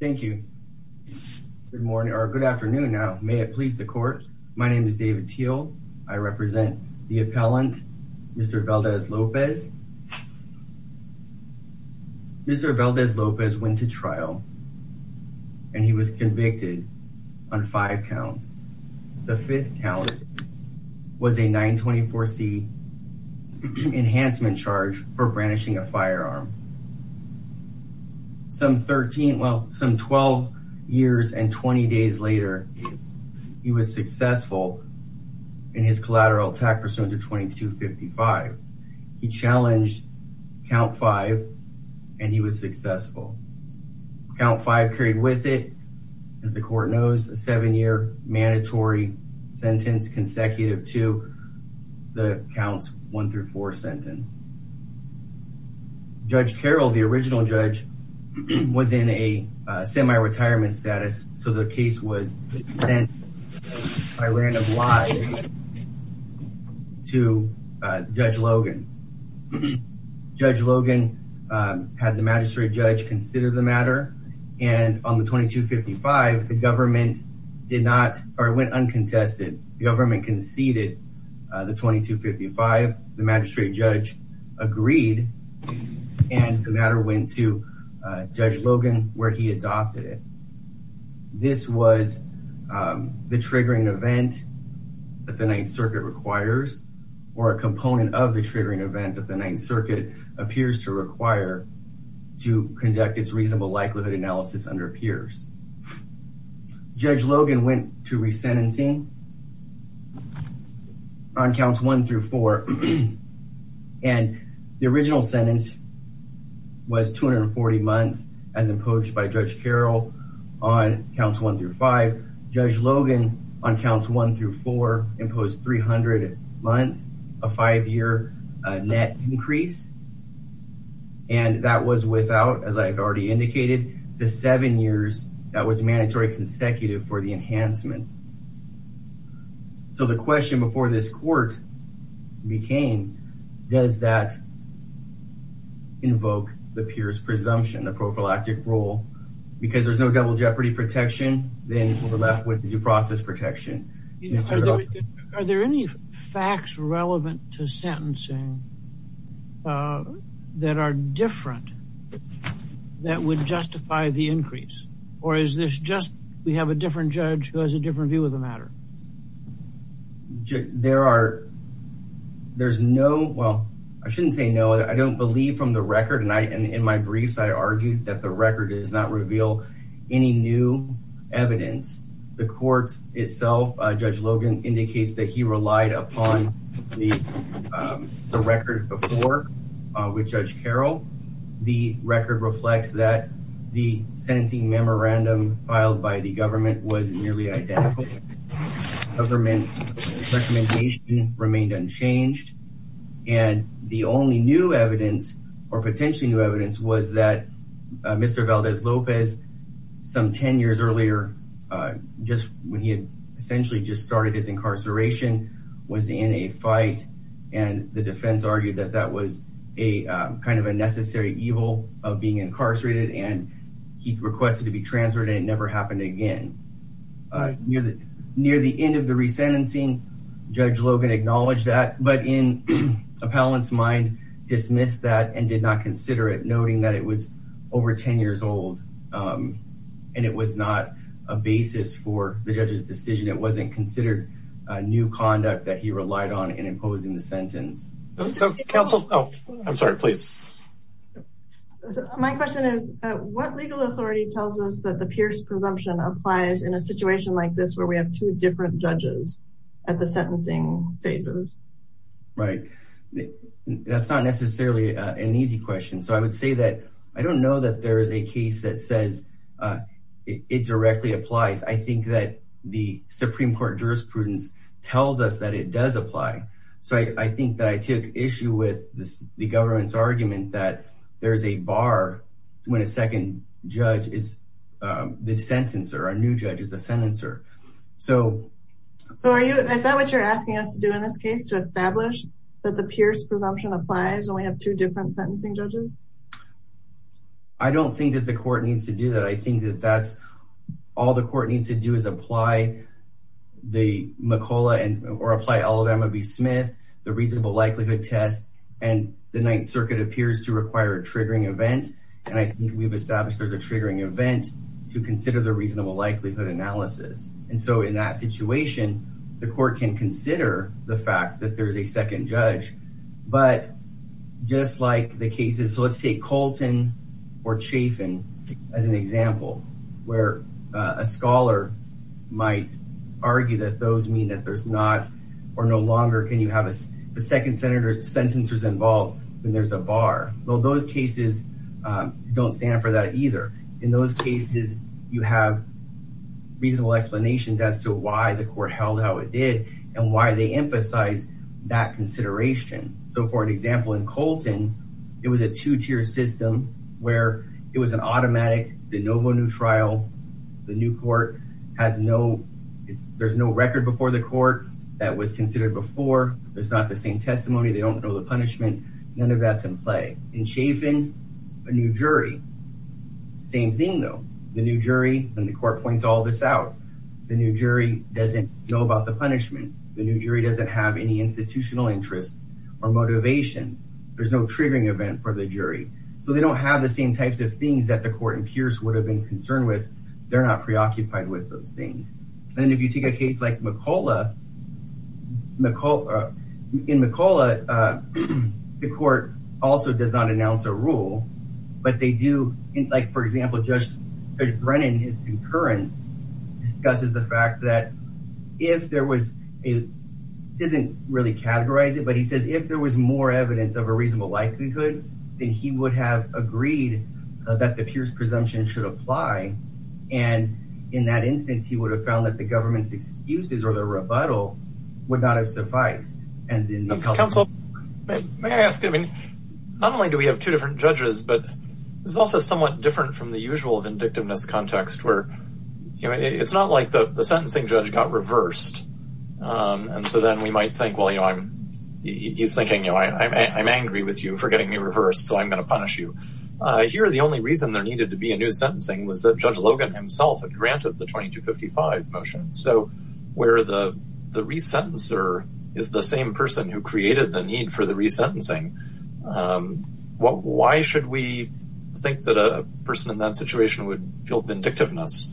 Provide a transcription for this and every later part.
Thank you. Good morning or good afternoon now. May it please the court. My name is David Teal. I represent the appellant Mr. Valdez-Lopez. Mr. Valdez-Lopez went to trial and he was convicted on five counts. The fifth count was a 924c enhancement charge for brandishing a firearm. Some 13 well some 12 years and 20 days later he was successful in his collateral attack pursuant to 2255. He challenged count five and he was successful. Count five carried with it as the court knows a seven-year mandatory sentence consecutive to the counts one through four sentence. Judge Carroll, the original judge, was in a semi-retirement status so the case was sent by random lie to Judge Logan. Judge Logan had the magistrate judge consider the matter and on the 2255 the government did not or went uncontested. The government conceded the 2255. The magistrate judge agreed and the matter went to Judge Logan where he adopted it. This was the triggering event that the Ninth Circuit requires or a component of the triggering event that the Ninth Circuit appears to require to conduct its reasonable likelihood analysis under peers. Judge Logan went to resentencing on counts one through four and the original sentence was 240 months as imposed by Judge Carroll on counts one through five. Judge Logan on counts one through four imposed 300 months a five-year net increase and that was without as I've already indicated the seven years that was mandatory consecutive for the enhancement. So the question before this court became does that invoke the peers presumption the prophylactic rule because there's no double jeopardy protection then we're left with the due process protection. Are there any facts relevant to sentencing that are different that would justify the increase or is this just we have a different judge who has a different view of the matter? There are there's no well I shouldn't say no I don't believe from the record and I and in my briefs I argued that the record does not reveal any new evidence. The court itself Judge Logan indicates that he relied upon the the record before with Judge Carroll. The record reflects that the sentencing memorandum filed by the government was nearly identical government recommendation remained unchanged and the only new evidence or potentially new evidence was that Mr. Valdez Lopez some 10 years earlier just when he had essentially just started his incarceration was in a fight and the defense argued that that was a kind of a necessary evil of being incarcerated and he requested to be transferred and it never happened again. Near the near the end of the resentencing Judge Logan acknowledged that but in appellant's mind dismissed that and did not consider it noting that it was over 10 years old and it was not a basis for the judge's decision it wasn't considered a new conduct that he relied on in imposing the sentence. So counsel oh I'm sorry please. My question is what legal authority tells us that the Pierce presumption applies in a situation like this where we have two different judges at the sentencing phases? Right that's not necessarily an easy question so I would say that I don't know that there is a case that says it directly applies. I think that the Supreme Court jurisprudence tells us that it does apply so I think that I took issue with this the government's argument that there's a bar when the second judge is the sentencer a new judge is a sentencer. So are you is that what you're asking us to do in this case to establish that the Pierce presumption applies when we have two different sentencing judges? I don't think that the court needs to do that I think that that's all the court needs to do is apply the McCullough and or apply all of Emma B Smith the reasonable likelihood test and the Ninth Circuit appears to require a triggering event and I think we've established there's a triggering event to consider the reasonable likelihood analysis and so in that situation the court can consider the fact that there's a second judge but just like the cases so let's take Colton or Chafin as an example where a scholar might argue that those mean that there's or no longer can you have a second senator sentencers involved when there's a bar well those cases don't stand for that either in those cases you have reasonable explanations as to why the court held how it did and why they emphasize that consideration. So for an example in Colton it was a two-tier system where it was an automatic de novo new trial the new court has no there's no record before the court that was considered before there's not the same testimony they don't know the punishment none of that's in play in Chafin a new jury same thing though the new jury and the court points all this out the new jury doesn't know about the punishment the new jury doesn't have any institutional interests or motivations there's no triggering event for the jury so they don't have the same types of things that the court in Pierce would have been concerned with they're not preoccupied with those things and if you take a case like McCulloch McCulloch in McCulloch the court also does not announce a rule but they do in like for example Judge Brennan his concurrence discusses the fact that if there was it doesn't really categorize it but he says if there was more evidence of a reasonable likelihood then he would have agreed that the Pierce presumption should apply and in that instance he would have found that the government's excuses or the rebuttal would not have sufficed and in the council may I ask I mean not only do we have two different judges but it's also somewhat different from the usual vindictiveness context where you know it's not like the the sentencing judge got reversed and so then we might think well you know I'm he's thinking you know I'm angry with you for going to punish you here the only reason there needed to be a new sentencing was that Judge Logan himself had granted the 2255 motion so where the the resentencer is the same person who created the need for the resentencing what why should we think that a person in that situation would feel vindictiveness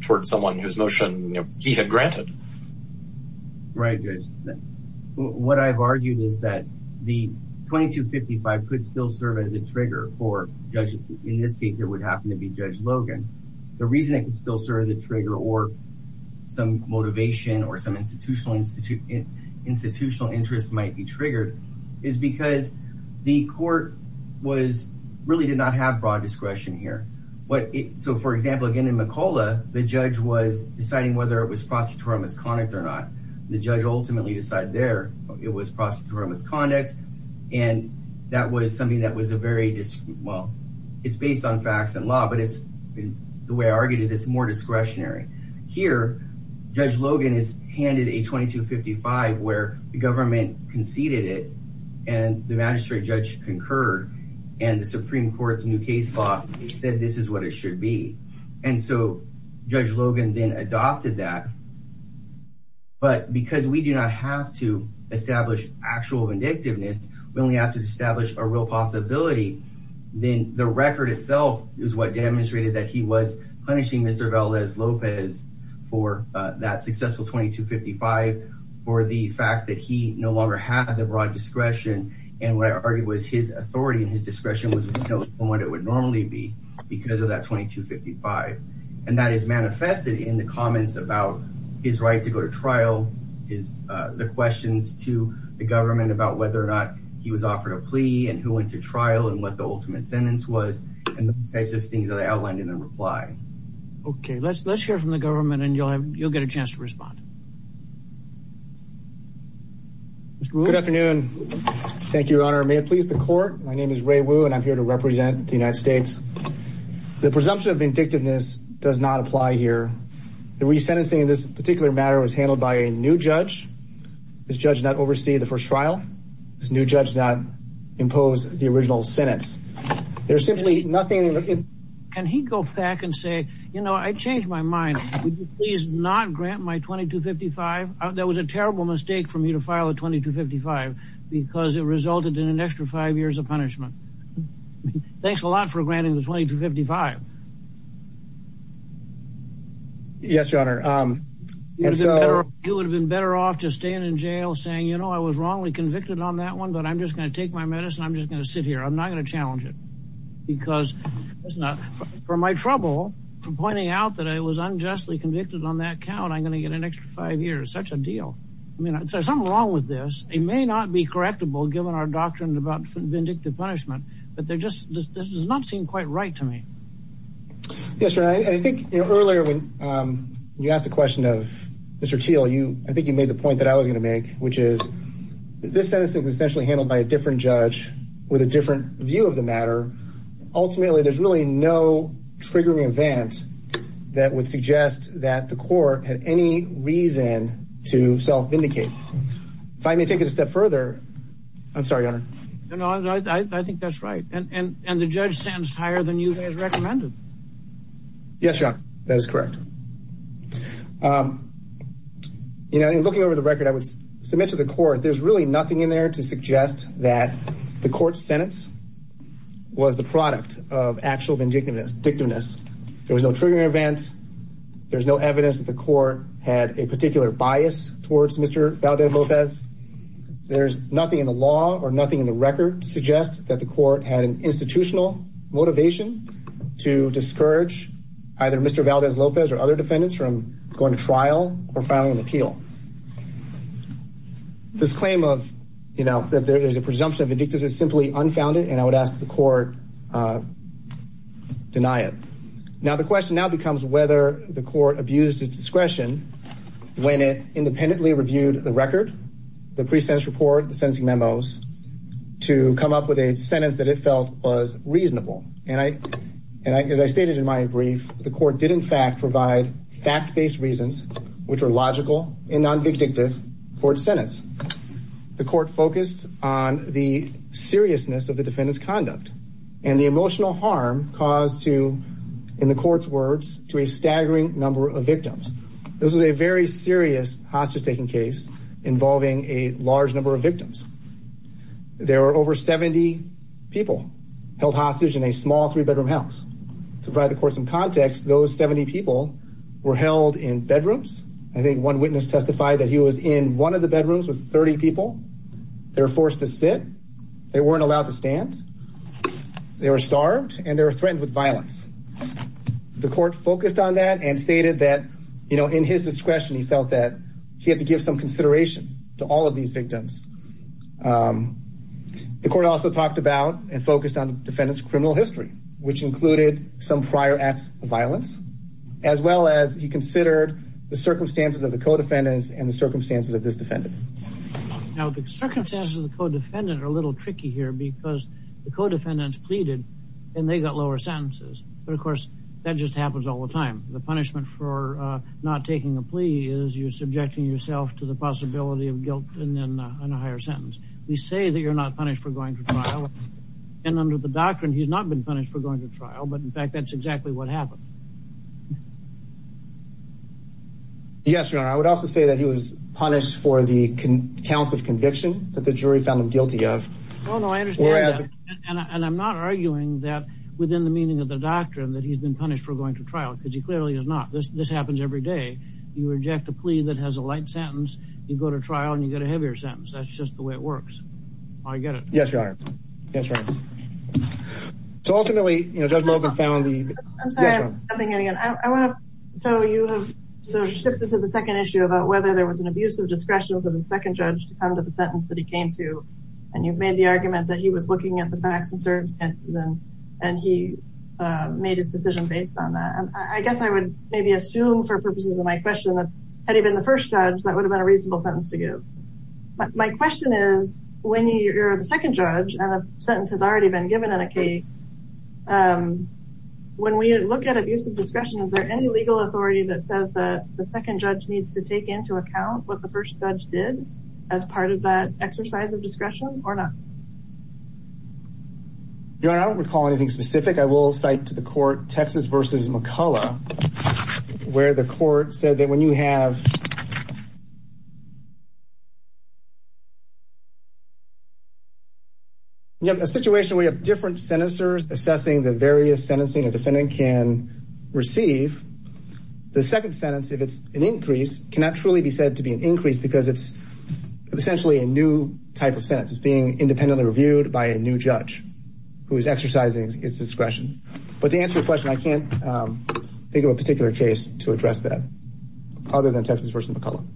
towards someone whose motion you know he had granted right what I've argued is that the 2255 could still serve as a trigger for judges in this case it would happen to be Judge Logan the reason it could still serve the trigger or some motivation or some institutional institute institutional interest might be triggered is because the court was really did not have broad discretion here what it so for example again in McCullough the judge was deciding whether it was conduct and that was something that was a very well it's based on facts and law but it's the way I argued is it's more discretionary here Judge Logan is handed a 2255 where the government conceded it and the magistrate judge concurred and the supreme court's new case law said this is what it should be and so Judge Logan then adopted that but because we do not have to actual vindictiveness we only have to establish a real possibility then the record itself is what demonstrated that he was punishing Mr. Valdes Lopez for that successful 2255 for the fact that he no longer had the broad discretion and what I argued was his authority and his discretion was what it would normally be because of that 2255 and that is manifested in the comments about his right to go to trial his uh the questions to the government about whether or not he was offered a plea and who went to trial and what the ultimate sentence was and those types of things that I outlined in the reply okay let's let's hear from the government and you'll have you'll get a chance to respond good afternoon thank you your honor may it please the court my name is Ray Wu and I'm here to represent the United States the presumption of vindictiveness does not apply here the resentencing in this particular matter was handled by a new judge this judge not oversee the first trial this new judge not impose the original sentence there's simply nothing can he go back and say you know I changed my mind would you please not grant my 2255 that was a terrible mistake for me to file a 2255 because it resulted in an extra five years of punishment thanks a lot for granting the 2255 yes your honor um it would have been better off just staying in jail saying you know I was wrongly convicted on that one but I'm just going to take my medicine I'm just going to sit here I'm not going to challenge it because it's not for my trouble from pointing out that I was unjustly convicted on that count I'm going to get an extra five years such a deal I mean there's something wrong with this it may not be correctable given our doctrine about vindictive punishment but they're just this does not seem quite right to me yes sir I think you know earlier when um you asked a question of mr teal you I think you made the point that I was going to make which is this sentence is essentially handled by a different judge with a different view of the matter ultimately there's really no triggering event that would suggest that the court had any reason to self-vindicate if I may take it a step further I'm sorry your honor you know I think that's right and and and the judge stands higher than you guys recommended yes your honor that is correct um you know in looking over the record I would submit to the court there's really nothing in there to suggest that the court sentence was the product of actual vindictiveness victimness there was no triggering events there's no evidence that the court had a particular bias towards mr valdez lopez there's nothing in the law or nothing in the record to suggest that the court had an institutional motivation to discourage either mr valdez lopez or other defendants from going to trial or filing an appeal this claim of you know that there's a presumption of addictive is simply unfounded and I would ask the court uh deny it now the question now becomes whether the court abused its discretion when it independently reviewed the record the pre-sentence report the sentencing memos to come up with a sentence that it felt was reasonable and I and I as I stated in my brief the court did in fact provide fact-based reasons which were logical and non-victictive for its and the emotional harm caused to in the court's words to a staggering number of victims this is a very serious hostage taking case involving a large number of victims there were over 70 people held hostage in a small three-bedroom house to provide the court some context those 70 people were held in bedrooms I think one witness testified that he was in one of the bedrooms with 30 people they were forced to sit they weren't allowed to stand they were starved and they were threatened with violence the court focused on that and stated that you know in his discretion he felt that he had to give some consideration to all of these victims the court also talked about and focused on the defendant's criminal history which included some prior acts of violence as well as he considered the circumstances of the co-defendants and the now the circumstances of the co-defendant are a little tricky here because the co-defendants pleaded and they got lower sentences but of course that just happens all the time the punishment for uh not taking a plea is you're subjecting yourself to the possibility of guilt and then on a higher sentence we say that you're not punished for going to trial and under the doctrine he's not been punished for going to trial but in fact that's exactly what happened yes your honor i would also say that he was punished for the counts of conviction that the jury found him guilty of well no i understand and i'm not arguing that within the meaning of the doctrine that he's been punished for going to trial because he clearly is not this this happens every day you reject a plea that has a light sentence you go to trial and you get a heavier sentence that's just the way it works i get it yes your honor yes right so ultimately you know i'm sorry i'm getting it i want to so you have so shifted to the second issue about whether there was an abuse of discretion for the second judge to come to the sentence that he came to and you made the argument that he was looking at the facts and serves and then and he uh made his decision based on that and i guess i would maybe assume for purposes of my question that had he been the first judge that would have been a reasonable sentence to give my question is when you're the um when we look at abuse of discretion is there any legal authority that says that the second judge needs to take into account what the first judge did as part of that exercise of discretion or not your honor i don't recall anything specific i will cite to the court texas versus mccullough where the court said that when you have you have a situation where you have different senators assessing the various sentencing a defendant can receive the second sentence if it's an increase cannot truly be said to be an increase because it's essentially a new type of sentence is being independently reviewed by a new judge who is exercising its discretion but to answer your question i can't um think of a particular case to address that other than texas versus mccullough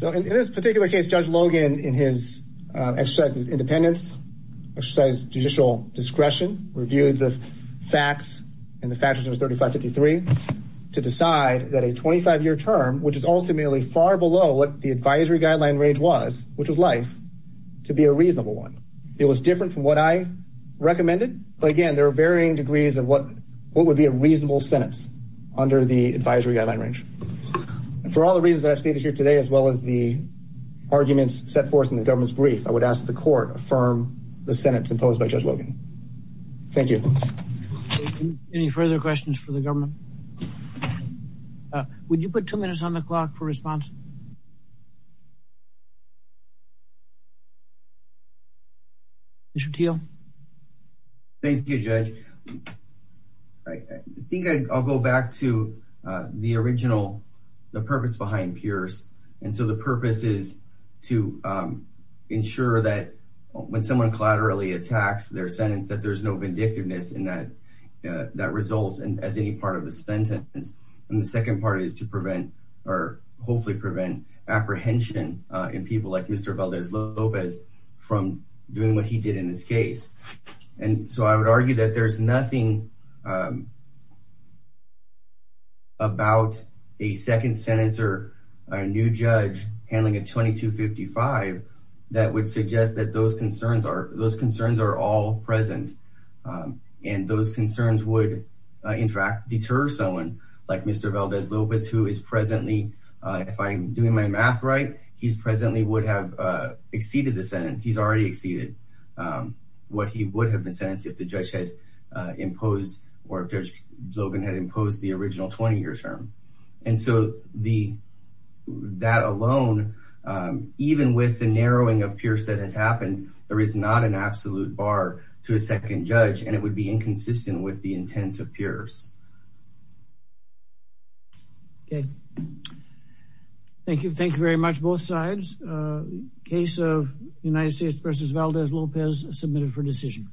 i don't recall anything specific so in this particular case judge logan in his exercises independence exercise judicial discretion reviewed the facts and the factors 35 53 to decide that a 25-year term which is ultimately far below what the advisory guideline range was which was life to be a reasonable one it was different from what i recommended but again there are varying degrees of what what would be a reasonable sentence under the advisory guideline range and for all the reasons i've stated here today as well as the arguments set forth in the government's brief i would ask the court affirm the sentence imposed by judge logan thank you any further questions for the government uh would you put two minutes on the clock for response thank you judge i think i'll go back to uh the original the purpose behind peers and so the purpose is to um ensure that when someone collaterally attacks their sentence that there's no vindictiveness in that that results and as any part of the sentence and the second part is to prevent or hopefully prevent apprehension uh in people like mr valdez lopez from doing what he did in this case and so i would argue that there's nothing about a second sentence or a new judge handling a 22 55 that would suggest that those concerns are those concerns are all present and those concerns would in fact deter someone like mr valdez lopez who is presently uh if i'm doing my math right he's presently would have uh exceeded the sentence he's already exceeded um what he would have been sentenced if the judge had imposed or judge logan had imposed the original 20 years term and so the that alone um even with the narrowing of peers that has happened there is not an absolute bar to a second judge and it would be inconsistent with the intent of peers okay thank you thank you very much both sides uh case of united states versus valdez lopez submitted for decision